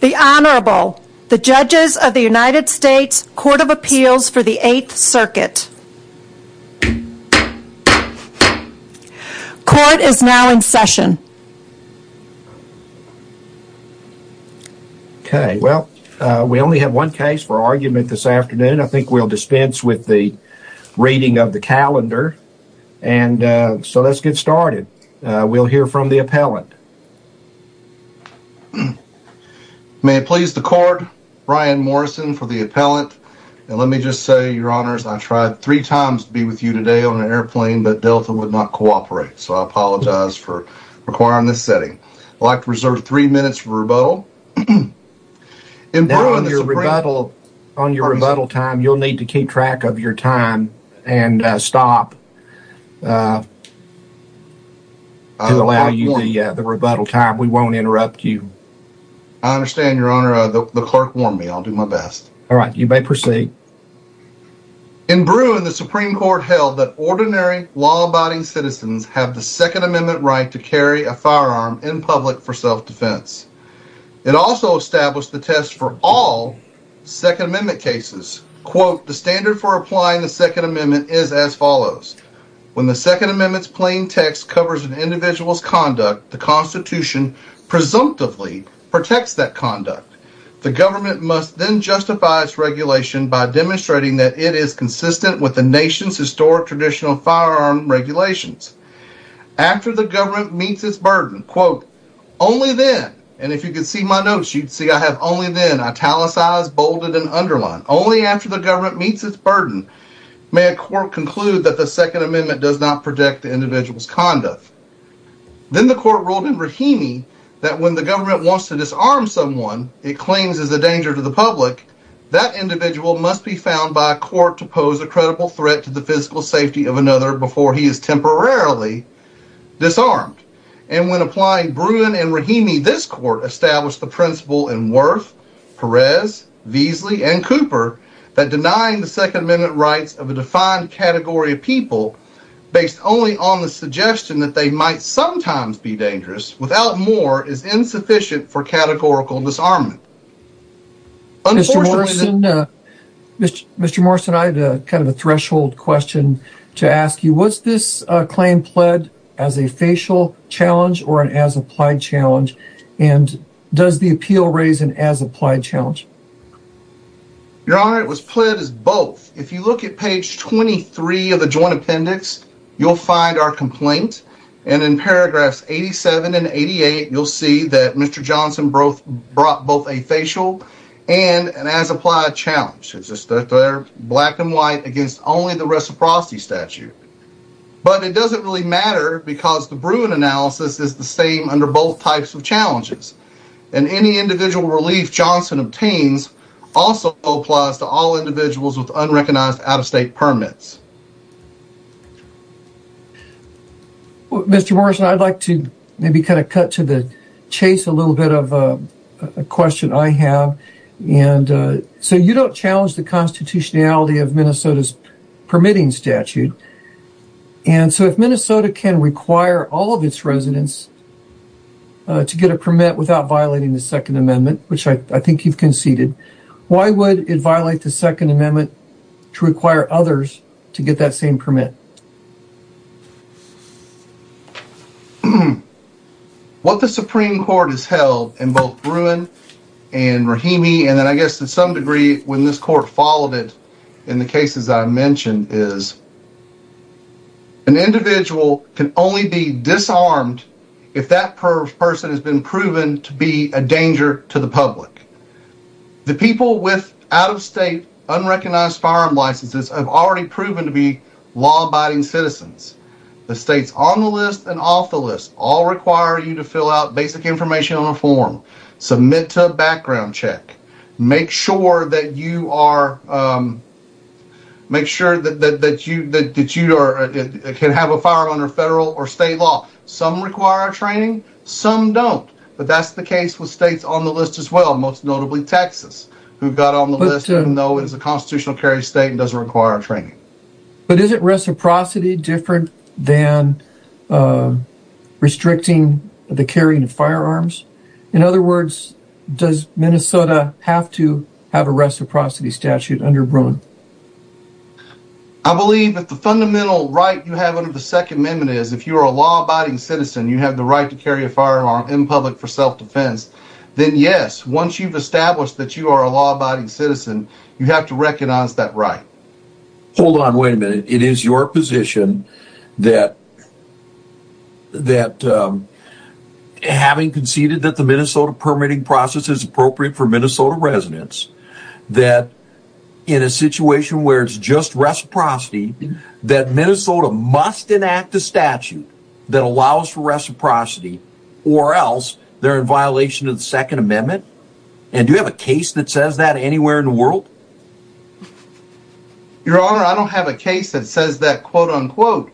The Honorable, the Judges of the United States Court of Appeals for the 8th Circuit. Court is now in session. Okay, well, we only have one case for argument this afternoon. I think we'll dispense with the reading of the calendar. And so let's get started. We'll hear from the appellant. May it please the Court, Brian Morrison for the appellant. And let me just say, Your Honors, I tried three times to be with you today on an airplane, but Delta would not cooperate. So I apologize for requiring this setting. I'd like to reserve three minutes for rebuttal. Now on your rebuttal time, you'll need to keep track of your time and stop to allow you the rebuttal time. We won't interrupt you. I understand, Your Honor. The clerk warned me. I'll do my best. All right, you may proceed. In Bruin, the Supreme Court held that ordinary law-abiding citizens have the Second Amendment right to carry a firearm in public for self-defense. It also established the test for all Second Amendment cases. Quote, the standard for applying the Second Amendment is as follows. When the Second Amendment's plain text covers an individual's conduct, the Constitution presumptively protects that conduct. The government must then justify its regulation by demonstrating that it is consistent with the nation's historic traditional firearm regulations. After the government meets its burden, quote, only then, and if you could see my notes, you'd see I have only then italicized, bolded, and underlined. Only after the government meets its burden may a court conclude that the Second Amendment does not protect the individual's conduct. Then the court ruled in Rahimi that when the government wants to disarm someone it claims is a danger to the public, that individual must be found by a court to pose a credible threat to the physical safety of another before he is temporarily disarmed. And when applying Bruin and Rahimi, this court established the principle in Worth, Perez, Veasley, and Cooper that denying the Second Amendment rights of a defined category of people based only on the suggestion that they might sometimes be dangerous without more is insufficient for categorical disarmament. Mr. Morrison, I have kind of a threshold question to ask you. Was this claim pled as a facial challenge or an as-applied challenge? And does the appeal raise an as-applied challenge? Your Honor, it was pled as both. If you look at page 23 of the joint appendix, you'll find our complaint. And in paragraphs 87 and 88, you'll see that Mr. Johnson brought both a facial and an as-applied challenge. It's just that they're black and white against only the reciprocity statute. But it doesn't really matter because the Bruin analysis is the same under both types of challenges. And any individual relief Johnson obtains also applies to all individuals with unrecognized out-of-state permits. Mr. Morrison, I'd like to maybe kind of cut to the chase a little bit of a question I have. And so you don't challenge the constitutionality of Minnesota's permitting statute. And so if Minnesota can require all of its residents to get a permit without violating the Second Amendment, which I think you've conceded, why would it violate the Second Amendment to require others to get that same permit? What the Supreme Court has held in both Bruin and Rahimi, and I guess to some degree when this court followed it in the cases I mentioned, is an individual can only be disarmed if that person has been proven to be a danger to the public. The people with out-of-state unrecognized firearm licenses have already proven to be law-abiding citizens. The states on the list and off the list all require you to fill out basic information on a form, submit to a background check, make sure that you can have a firearm under federal or state law. Some require training, some don't. But that's the case with states on the list as well, most notably Texas, who got on the list even though it's a constitutional carry state and doesn't require training. But isn't reciprocity different than restricting the carrying of firearms? In other words, does Minnesota have to have a reciprocity statute under Bruin? I believe that the fundamental right you have under the Second Amendment is if you are a law-abiding citizen, you have the right to carry a firearm in public for self-defense. Then yes, once you've established that you are a law-abiding citizen, you have to recognize that right. Hold on, wait a minute. It is your position that having conceded that the Minnesota permitting process is appropriate for Minnesota residents, that in a situation where it's just reciprocity, that Minnesota must enact a statute that allows for reciprocity, or else they're in violation of the Second Amendment? And do you have a case that says that anywhere in the world? Your Honor, I don't have a case that says that quote-unquote.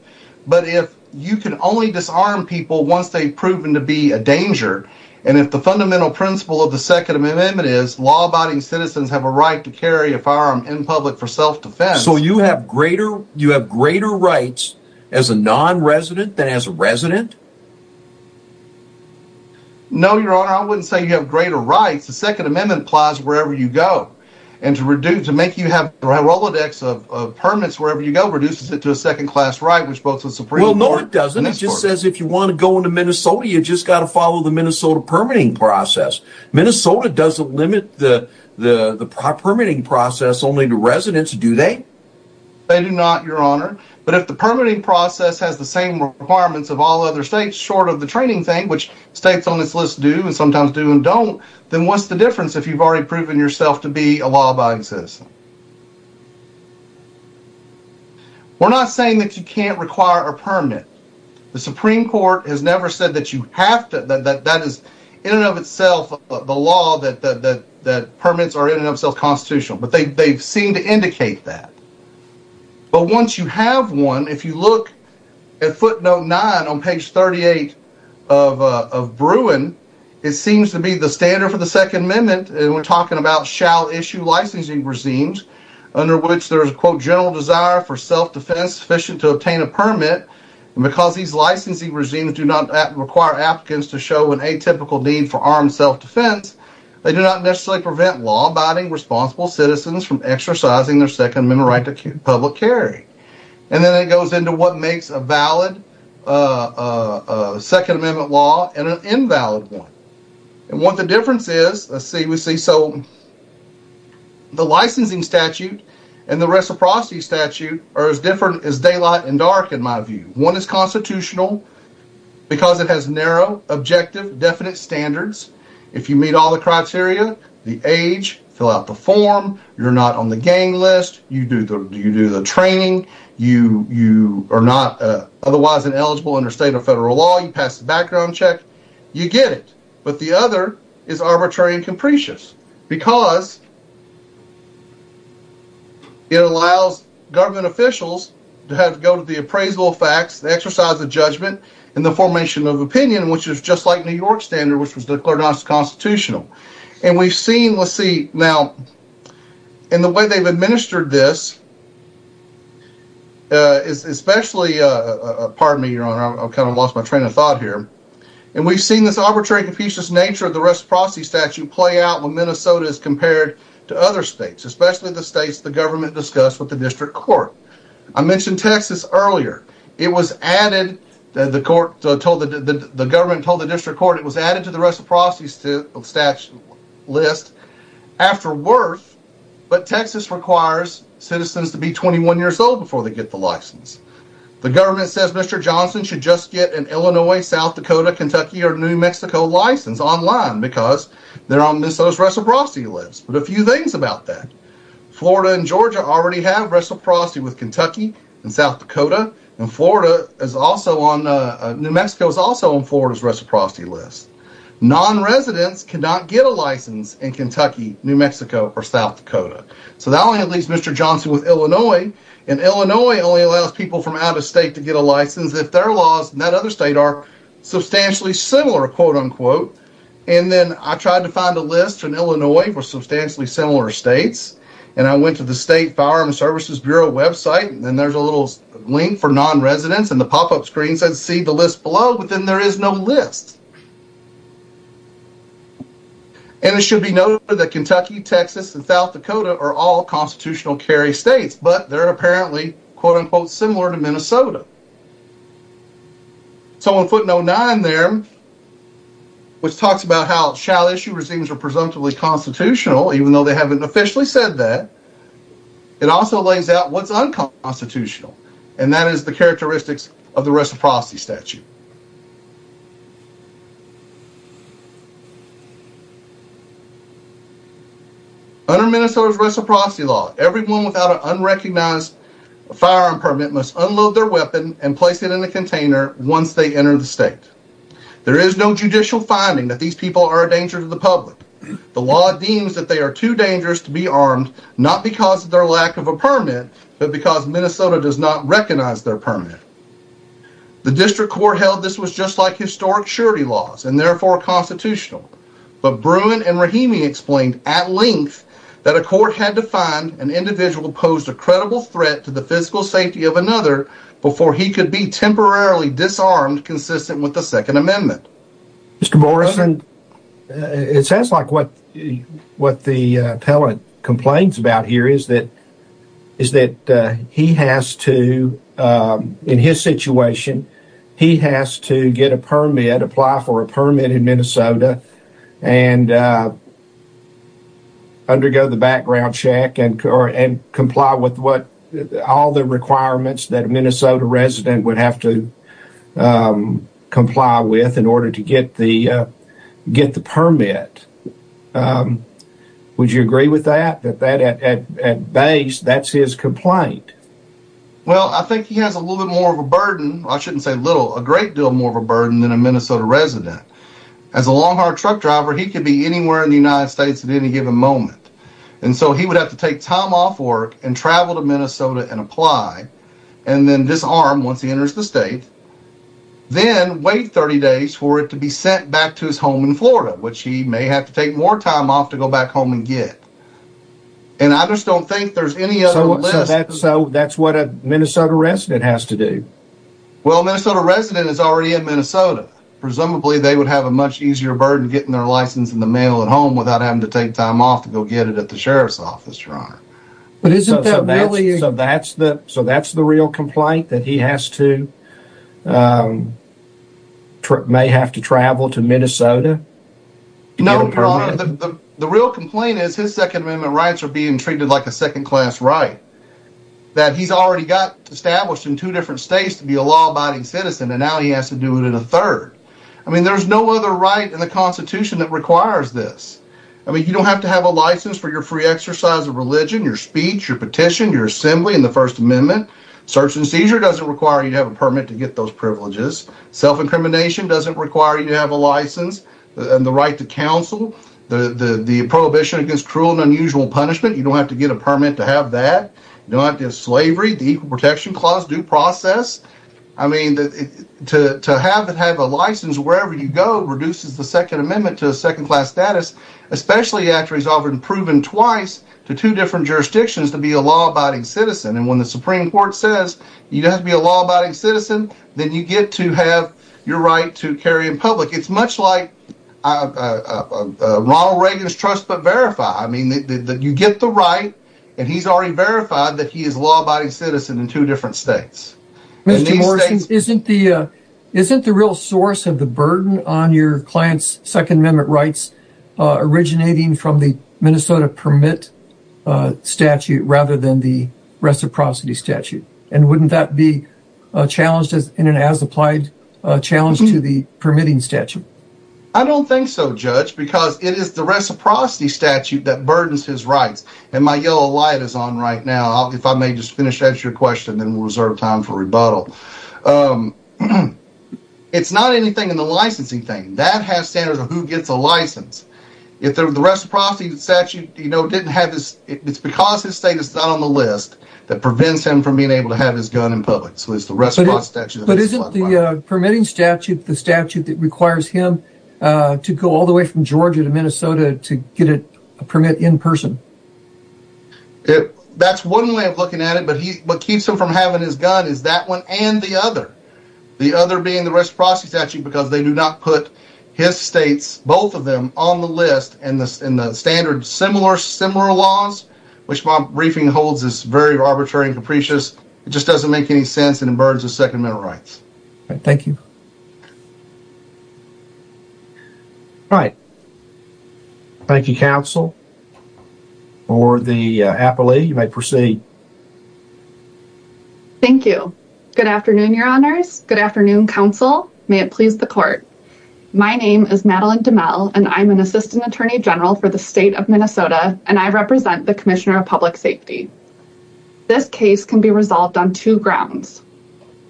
But if you can only disarm people once they've proven to be a danger, and if the fundamental principle of the Second Amendment is law-abiding citizens have a right to carry a firearm in public for self-defense. So you have greater rights as a non-resident than as a resident? No, Your Honor, I wouldn't say you have greater rights. The Second Amendment applies wherever you go. And to make you have the Rolodex of permits wherever you go reduces it to a second-class right which votes with the Supreme Court. Well, no, it doesn't. It just says if you want to go into Minnesota, you've just got to follow the Minnesota permitting process. Minnesota doesn't limit the permitting process only to residents, do they? They do not, Your Honor. But if the permitting process has the same requirements of all other states, short of the training thing, which states on this list do and sometimes do and don't, then what's the difference if you've already proven yourself to be a law-abiding citizen? We're not saying that you can't require a permit. The Supreme Court has never said that that is in and of itself the law that permits are in and of themselves constitutional. But they've seemed to indicate that. But once you have one, if you look at footnote 9 on page 38 of Bruin, it seems to be the standard for the Second Amendment, and we're talking about shall issue licensing regimes, under which there is a, quote, general desire for self-defense sufficient to obtain a permit. And because these licensing regimes do not require applicants to show an atypical need for armed self-defense, they do not necessarily prevent law-abiding responsible citizens from exercising their Second Amendment right to public carry. And then it goes into what makes a valid Second Amendment law and an invalid one. And what the difference is, let's see, so the licensing statute and the reciprocity statute are as different as daylight and dark, in my view. One is constitutional because it has narrow, objective, definite standards. If you meet all the criteria, the age, fill out the form, you're not on the gang list, you do the training, you are not otherwise eligible under state or federal law, you pass the background check, you get it. But the other is arbitrary and capricious because it allows government officials to go to the appraisal of facts, the exercise of judgment, and the formation of opinion, which is just like New York standard, which was declared unconstitutional. And we've seen, let's see, now, in the way they've administered this, especially, pardon me, Your Honor, I kind of lost my train of thought here, and we've seen this arbitrary and capricious nature of the reciprocity statute play out when Minnesota is compared to other states, especially the states the government discussed with the district court. I mentioned Texas earlier. It was added, the government told the district court, it was added to the reciprocity statute list after Worth, but Texas requires citizens to be 21 years old before they get the license. The government says Mr. Johnson should just get an Illinois, South Dakota, Kentucky, or New Mexico license online because they're on Minnesota's reciprocity list, but a few things about that. Minnesota and Georgia already have reciprocity with Kentucky and South Dakota, and Florida is also on, New Mexico is also on Florida's reciprocity list. Non-residents cannot get a license in Kentucky, New Mexico, or South Dakota, so that only leaves Mr. Johnson with Illinois, and Illinois only allows people from out of state to get a license if their laws in that other state are substantially similar, quote-unquote, and then I tried to find a list in Illinois for substantially similar states, and I went to the State Firearm Services Bureau website, and there's a little link for non-residents, and the pop-up screen says see the list below, but then there is no list. And it should be noted that Kentucky, Texas, and South Dakota are all constitutional carry states, but they're apparently, quote-unquote, similar to Minnesota. So in footnote 9 there, which talks about how shall issue regimes are presumptively constitutional, even though they haven't officially said that, it also lays out what's unconstitutional, and that is the characteristics of the reciprocity statute. Under Minnesota's reciprocity law, everyone without an unrecognized firearm permit must unload their weapon and place it in a container once they enter the state. There is no judicial finding that these people are a danger to the public. The law deems that they are too dangerous to be armed not because of their lack of a permit, but because Minnesota does not recognize their permit. The district court held this was just like historic surety laws, and therefore constitutional, but Bruin and Rahimi explained at length that a court had to find an individual It sounds like what the appellant complains about here is that he has to, in his situation, he has to get a permit, apply for a permit in Minnesota, and undergo the background check and comply with all the requirements that a Minnesota resident would have to Would you agree with that? That at base, that's his complaint? Well, I think he has a little bit more of a burden, I shouldn't say little, a great deal more of a burden than a Minnesota resident. As a long-haired truck driver, he could be anywhere in the United States at any given moment, and so he would have to take time off work and travel to Minnesota and apply, and then disarm once he enters the state, then wait 30 days for it to be sent back to his home in Florida, which he may have to take more time off to go back home and get. So that's what a Minnesota resident has to do? Well, a Minnesota resident is already in Minnesota. Presumably, they would have a much easier burden getting their license in the mail at home without having to take time off to go get it at the sheriff's office, Your Honor. So that's the real complaint, that he has to may have to travel to Minnesota? No, Your Honor, the real complaint is his Second Amendment rights are being treated like a second-class right. That he's already got established in two different states to be a law-abiding citizen, and now he has to do it in a third. I mean, there's no other right in the Constitution that requires this. I mean, you don't have to have a license for your free exercise of religion, your speech, your petition, your assembly in the First Amendment. Search and seizure doesn't require you to have a permit to get those privileges. Self-incrimination doesn't require you to have a license and the right to counsel. The prohibition against cruel and unusual punishment, you don't have to get a permit to have that. You don't have to have slavery. The Equal Protection Clause, due process. I mean, to have a license wherever you go reduces the Second Amendment to a second-class status. Especially after he's already proven twice to two different jurisdictions to be a law-abiding citizen. And when the Supreme Court says you don't have to be a law-abiding citizen, then you get to have your right to carry in public. It's much like Ronald Reagan's trust but verified. You get the right, and he's already verified that he is a law-abiding citizen in two different states. Mr. Morrison, isn't the real source of the burden on your client's Second Amendment rights originating from the Minnesota Permit Statute rather than the Reciprocity Statute? And wouldn't that be challenged in an as-applied challenge to the permitting statute? I don't think so, Judge, because it is the Reciprocity Statute that burdens his rights. And my yellow light is on right now. If I may just finish answering your question, then we'll reserve time for rebuttal. It's not anything in the licensing thing. That has standards of who gets a license. The Reciprocity Statute, it's because his status is not on the list that prevents him from being able to have his gun in public. But isn't the permitting statute the statute that requires him to go all the way from Georgia to Minnesota to get a permit in person? That's one way of looking at it, but what keeps him from having his gun is that one and the other. The other being the Reciprocity Statute because they do not put his states, both of them, on the list. And the standard similar laws, which my briefing holds is very arbitrary and capricious, it just doesn't make any sense and it burdens his Second Amendment rights. Thank you. All right. Thank you, Counsel. For the appellee, you may proceed. Thank you. Good afternoon, Your Honors. Good afternoon, Counsel. May it please the Court. My name is Madeline DeMell, and I'm an Assistant Attorney General for the State of Minnesota, and I represent the Commissioner of Public Safety. This case can be resolved on two grounds.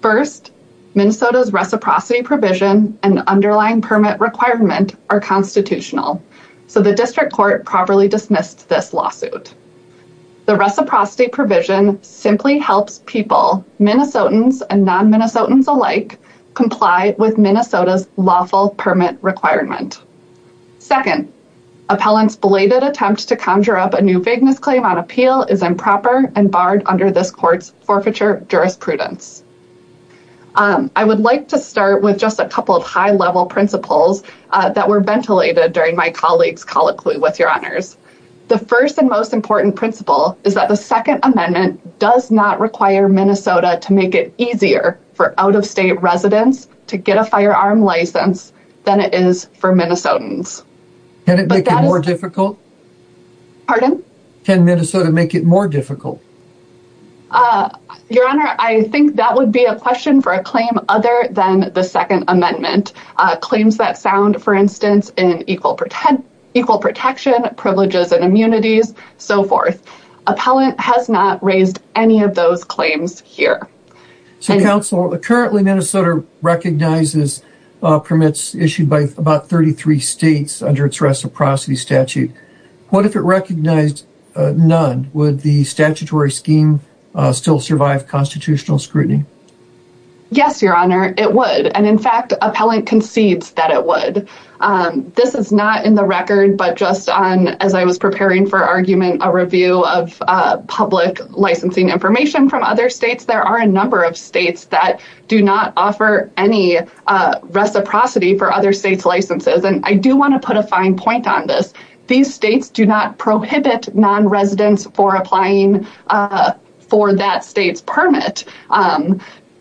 First, Minnesota's reciprocity provision and underlying permit requirement are constitutional, so the District Court properly dismissed this lawsuit. The reciprocity provision simply helps people, Minnesotans and non-Minnesotans alike, comply with Minnesota's lawful permit requirement. Second, appellant's belated attempt to conjure up a new vagueness claim on appeal is improper and barred under this court's forfeiture jurisprudence. I would like to start with just a couple of high-level principles that were ventilated during my colleague's colloquy with Your Honors. The first and most important principle is that the Second Amendment does not require Minnesota to make it easier for out-of-state residents to get a firearm license than it is for Minnesotans. Can it make it more difficult? Pardon? Can Minnesota make it more difficult? Your Honor, I think that would be a question for a claim other than the Second Amendment. Claims that sound, for instance, in equal protection, privileges, and immunities, so forth. Appellant has not raised any of those claims here. Currently, Minnesota recognizes permits issued by about 33 states under its reciprocity statute. What if it recognized none? Would the statutory scheme still survive constitutional scrutiny? Yes, Your Honor, it would. In fact, appellant concedes that it would. This is not in the record, but just as I was preparing for argument, a review of public licensing information from other states. There are a number of states that do not offer any reciprocity for other states' licenses. And I do want to put a fine point on this. These states do not prohibit nonresidents for applying for that state's permit.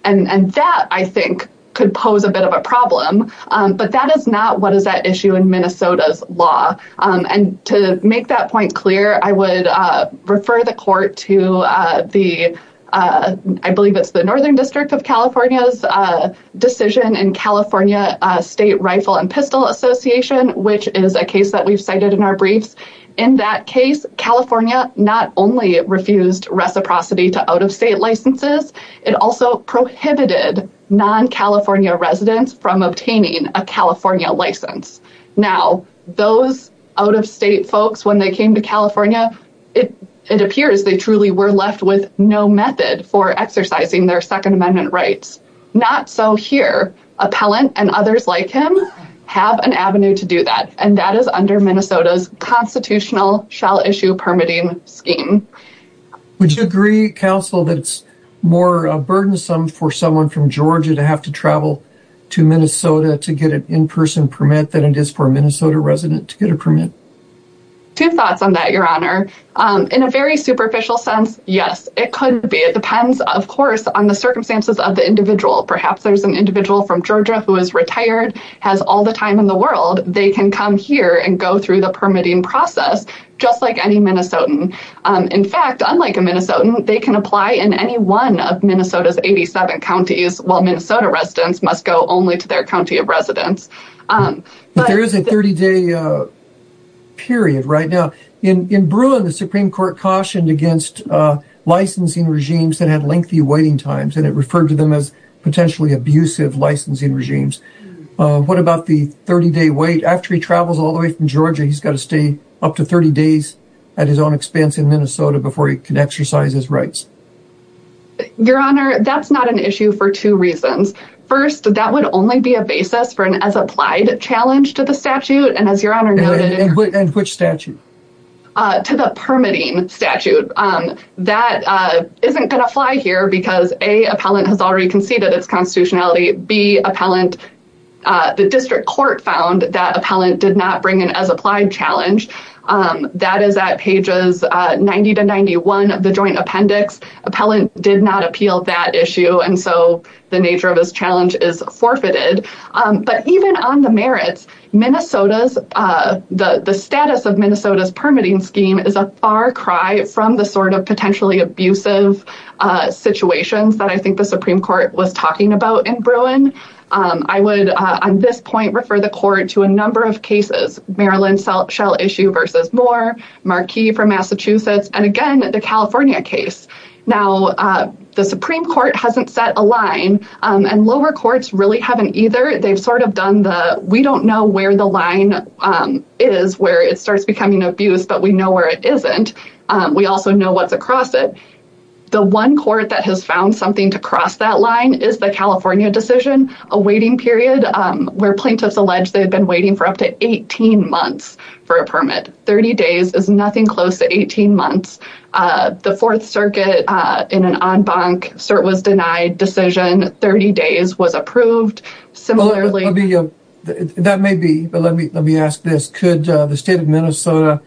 And that, I think, could pose a bit of a problem. But that is not what is at issue in Minnesota's law. And to make that point clear, I would refer the court to the, I believe it's the Northern District of California's decision in California State Rifle and Pistol Association, which is a case that we've cited in our briefs. In that case, California not only refused reciprocity to out-of-state licenses, it also prohibited non-California residents from obtaining a California license. Now, those out-of-state folks, when they came to California, it appears they truly were left with no method for exercising their Second Amendment rights. Not so here. Appellant and others like him have an avenue to do that. And that is under Minnesota's constitutional shall-issue permitting scheme. Would you agree, Counsel, that it's more burdensome for someone from Georgia to have to travel to Minnesota to get an in-person permit than it is for a Minnesota resident to get a permit? Two thoughts on that, Your Honor. In a very superficial sense, yes, it could be. It depends, of course, on the circumstances of the individual. Perhaps there's an individual from Georgia who is retired, has all the time in the world, they can come here and go through the permitting process, just like any Minnesotan. In fact, unlike a Minnesotan, they can apply in any one of Minnesota's 87 counties, while Minnesota residents must go only to their county of residence. But there is a 30-day period right now. In Bruin, the Supreme Court cautioned against licensing regimes that had lengthy waiting times, and it referred to them as potentially abusive licensing regimes. What about the 30-day wait? After he travels all the way from Georgia, he's got to stay up to 30 days at his own expense in Minnesota before he can exercise his rights. Your Honor, that's not an issue for two reasons. First, that would only be a basis for an as-applied challenge to the statute, and as Your Honor noted— And which statute? To the permitting statute. That isn't going to fly here because, A, appellant has already conceded its constitutionality. B, appellant—the district court found that appellant did not bring an as-applied challenge. That is at pages 90 to 91 of the joint appendix. Appellant did not appeal that issue, and so the nature of his challenge is forfeited. But even on the merits, Minnesota's—the status of Minnesota's permitting scheme is a far cry from the sort of potentially abusive situations that I think the Supreme Court was talking about in Bruin. I would, on this point, refer the court to a number of cases—Maryland Shell Issue v. Moore, Marquis v. Massachusetts, and again, the California case. Now, the Supreme Court hasn't set a line, and lower courts really haven't either. They've sort of done the, we don't know where the line is where it starts becoming abuse, but we know where it isn't. We also know what's across it. The one court that has found something to cross that line is the California decision, a waiting period where plaintiffs allege they've been waiting for up to 18 months for a permit. Thirty days is nothing close to 18 months. The Fourth Circuit, in an en banc, cert was denied decision. Thirty days was approved. That may be, but let me ask this. Could the state of Minnesota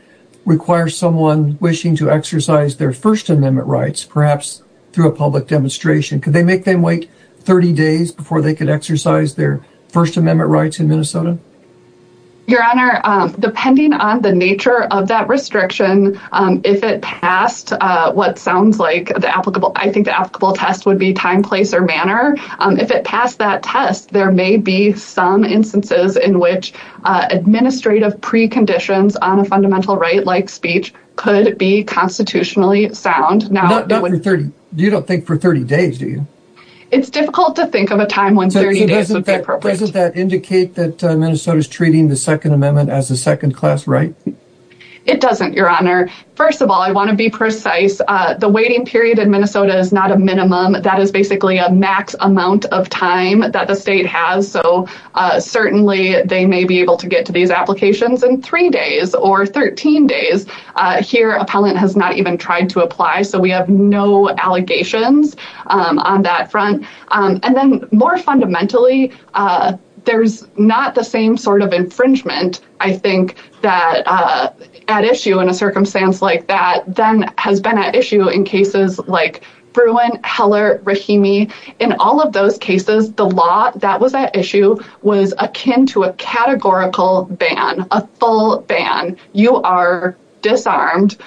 require someone wishing to exercise their First Amendment rights, perhaps through a public demonstration? Could they make them wait 30 days before they could exercise their First Amendment rights in Minnesota? Your Honor, depending on the nature of that restriction, if it passed what sounds like the applicable, I think the applicable test would be time, place, or manner. If it passed that test, there may be some instances in which administrative preconditions on a fundamental right like speech could be constitutionally sound. You don't think for 30 days, do you? It's difficult to think of a time when 30 days would be appropriate. Doesn't that indicate that Minnesota's treating the Second Amendment as a second class right? It doesn't, Your Honor. First of all, I want to be precise. The waiting period in Minnesota is not a minimum. That is basically a max amount of time that the state has, so certainly they may be able to get to these applications in three days or 13 days. Here, appellant has not even tried to apply, so we have no allegations on that front. More fundamentally, there's not the same sort of infringement, I think, that at issue in a circumstance like that than has been at issue in cases like Bruin, Heller, Rahimi. In all of those cases, the law that was at issue was akin to a categorical ban, a full ban. You are disarmed.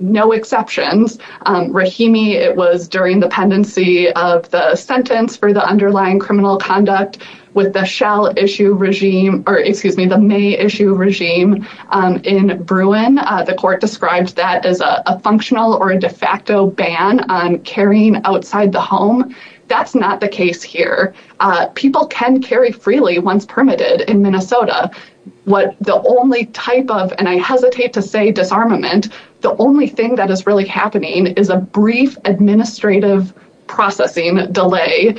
No exceptions. Rahimi, it was during the pendency of the sentence for the underlying criminal conduct with the May issue regime in Bruin. The court described that as a functional or a de facto ban on carrying outside the home. That's not the case here. People can carry freely once permitted in Minnesota. The only type of, and I hesitate to say disarmament, the only thing that is really happening is a brief administrative processing delay.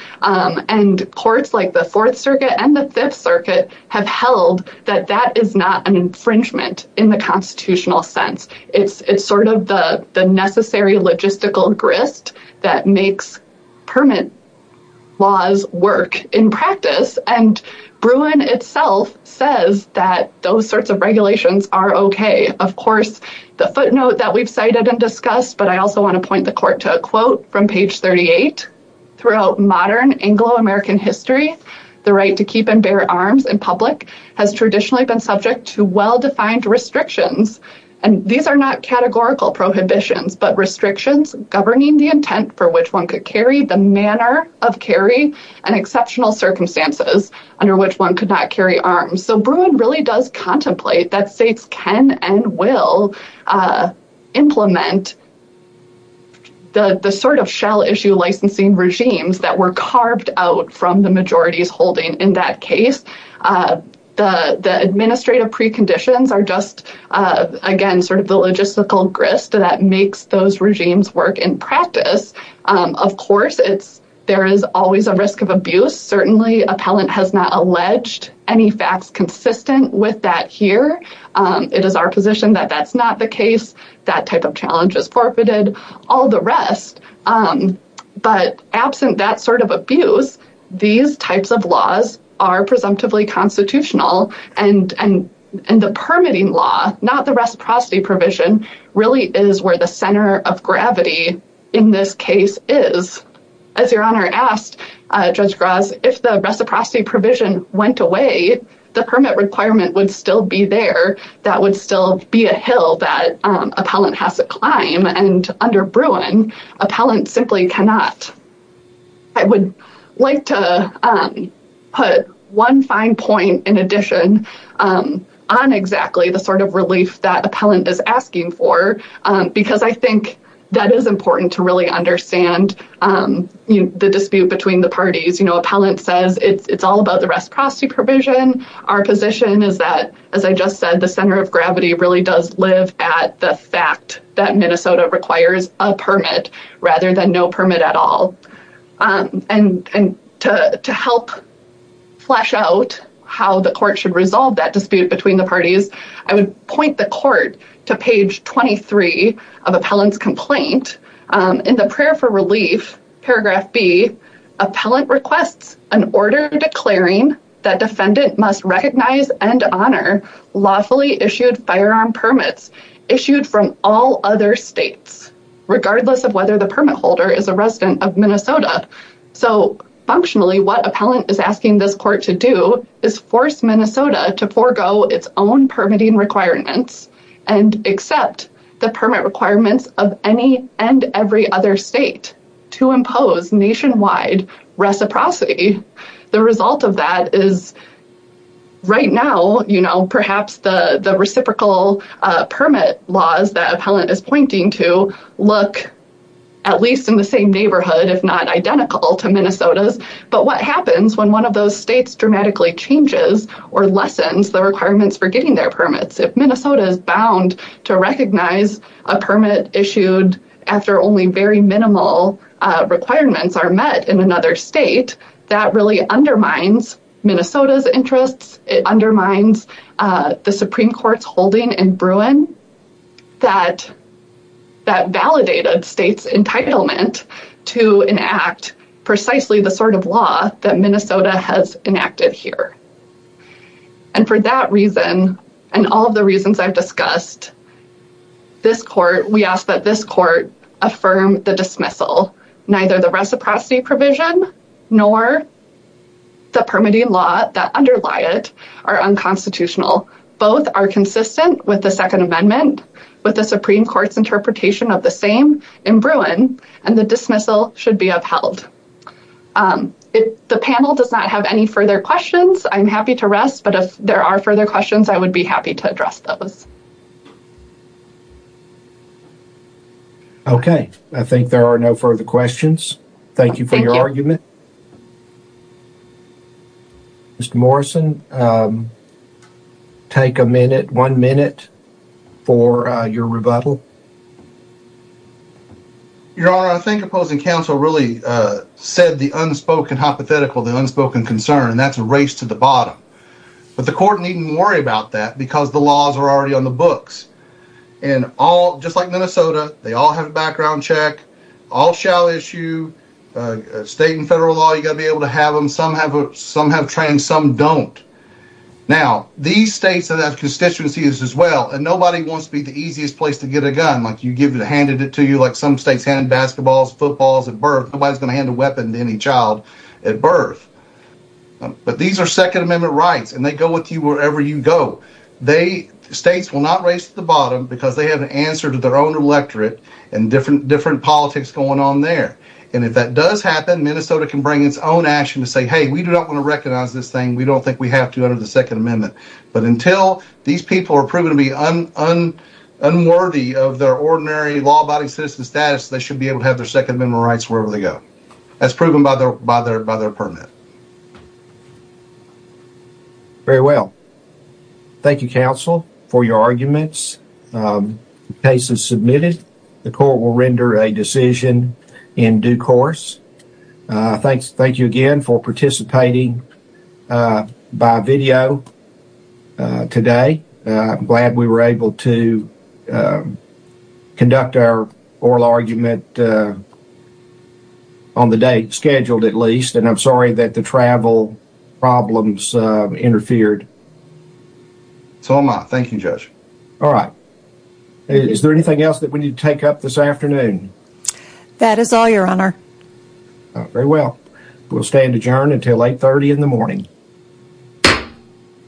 Courts like the Fourth Circuit and the Fifth Circuit have held that that is not an infringement in the constitutional sense. It's sort of the necessary logistical grist that makes permit laws work in practice. Bruin itself says that those sorts of regulations are okay. Of course, the footnote that we've cited and discussed, but I also want to point the court to a quote from page 38. Throughout modern Anglo-American history, the right to keep and bear arms in public has traditionally been subject to well-defined restrictions. These are not categorical prohibitions, but restrictions governing the intent for which one could carry, the manner of carry, and exceptional circumstances under which one could not carry arms. Bruin really does contemplate that states can and will implement the sort of shell issue licensing regimes that were carved out from the majorities holding. In that case, the administrative preconditions are just, again, sort of the logistical grist that makes those regimes work in practice. Of course, there is always a risk of abuse. Certainly, appellant has not alleged any facts consistent with that here. It is our position that that's not the case. That type of challenge is forfeited, all the rest. But absent that sort of abuse, these types of laws are presumptively constitutional. And the permitting law, not the reciprocity provision, really is where the center of gravity in this case is. As Your Honor asked, Judge Graz, if the reciprocity provision went away, the permit requirement would still be there. That would still be a hill that appellant has to climb. And under Bruin, appellant simply cannot. I would like to put one fine point in addition on exactly the sort of relief that appellant is asking for, because I think that is important to really understand the dispute between the parties. Appellant says it's all about the reciprocity provision. Our position is that, as I just said, the center of gravity really does live at the fact that Minnesota requires a permit rather than no permit at all. And to help flesh out how the court should resolve that dispute between the parties, I would point the court to page 23 of appellant's complaint. In the prayer for relief, paragraph B, appellant requests an order declaring that defendant must recognize and honor lawfully issued firearm permits issued from all other states, regardless of whether the permit holder is a resident of Minnesota. So, functionally, what appellant is asking this court to do is force Minnesota to forego its own permitting requirements and accept the permit requirements of any and every other state to impose nationwide reciprocity. The result of that is, right now, you know, perhaps the reciprocal permit laws that appellant is pointing to look at least in the same neighborhood, if not identical to Minnesota's. But what happens when one of those states dramatically changes or lessens the requirements for getting their permits? If Minnesota is bound to recognize a permit issued after only very minimal requirements are met in another state, that really undermines Minnesota's interests. It undermines the Supreme Court's holding in Bruin that validated state's entitlement to enact precisely the sort of law that Minnesota has enacted here. And for that reason, and all of the reasons I've discussed, we ask that this court affirm the dismissal. Neither the reciprocity provision nor the permitting law that underlie it are unconstitutional. Both are consistent with the Second Amendment, with the Supreme Court's interpretation of the same in Bruin, and the dismissal should be upheld. The panel does not have any further questions. I'm happy to rest, but if there are further questions, I would be happy to address those. Okay, I think there are no further questions. Thank you for your argument. Mr. Morrison, take a minute, one minute, for your rebuttal. Your Honor, I think opposing counsel really said the unspoken hypothetical, the unspoken concern, and that's a race to the bottom. But the court needn't worry about that because the laws are already on the books. And all, just like Minnesota, they all have a background check, all shall issue, state and federal law, you've got to be able to have them, some have trans, some don't. Now, these states have constituencies as well, and nobody wants to be the easiest place to get a gun. Like you give it, handed it to you, like some states handed basketballs, footballs at birth, nobody's going to hand a weapon to any child at birth. But these are Second Amendment rights, and they go with you wherever you go. States will not race to the bottom because they have an answer to their own electorate and different politics going on there. And if that does happen, Minnesota can bring its own action to say, hey, we do not want to recognize this thing, we don't think we have to under the Second Amendment. But until these people are proven to be unworthy of their ordinary law-abiding citizen status, they should be able to have their Second Amendment rights wherever they go. That's proven by their permit. Very well. Thank you, counsel, for your arguments. The case is submitted. The court will render a decision in due course. Thank you again for participating by video today. I'm glad we were able to conduct our oral argument on the date scheduled, at least. And I'm sorry that the travel problems interfered. It's all mine. Thank you, Judge. All right. Is there anything else that we need to take up this afternoon? That is all, Your Honor. Very well. We'll stand adjourned until 8.30 in the morning.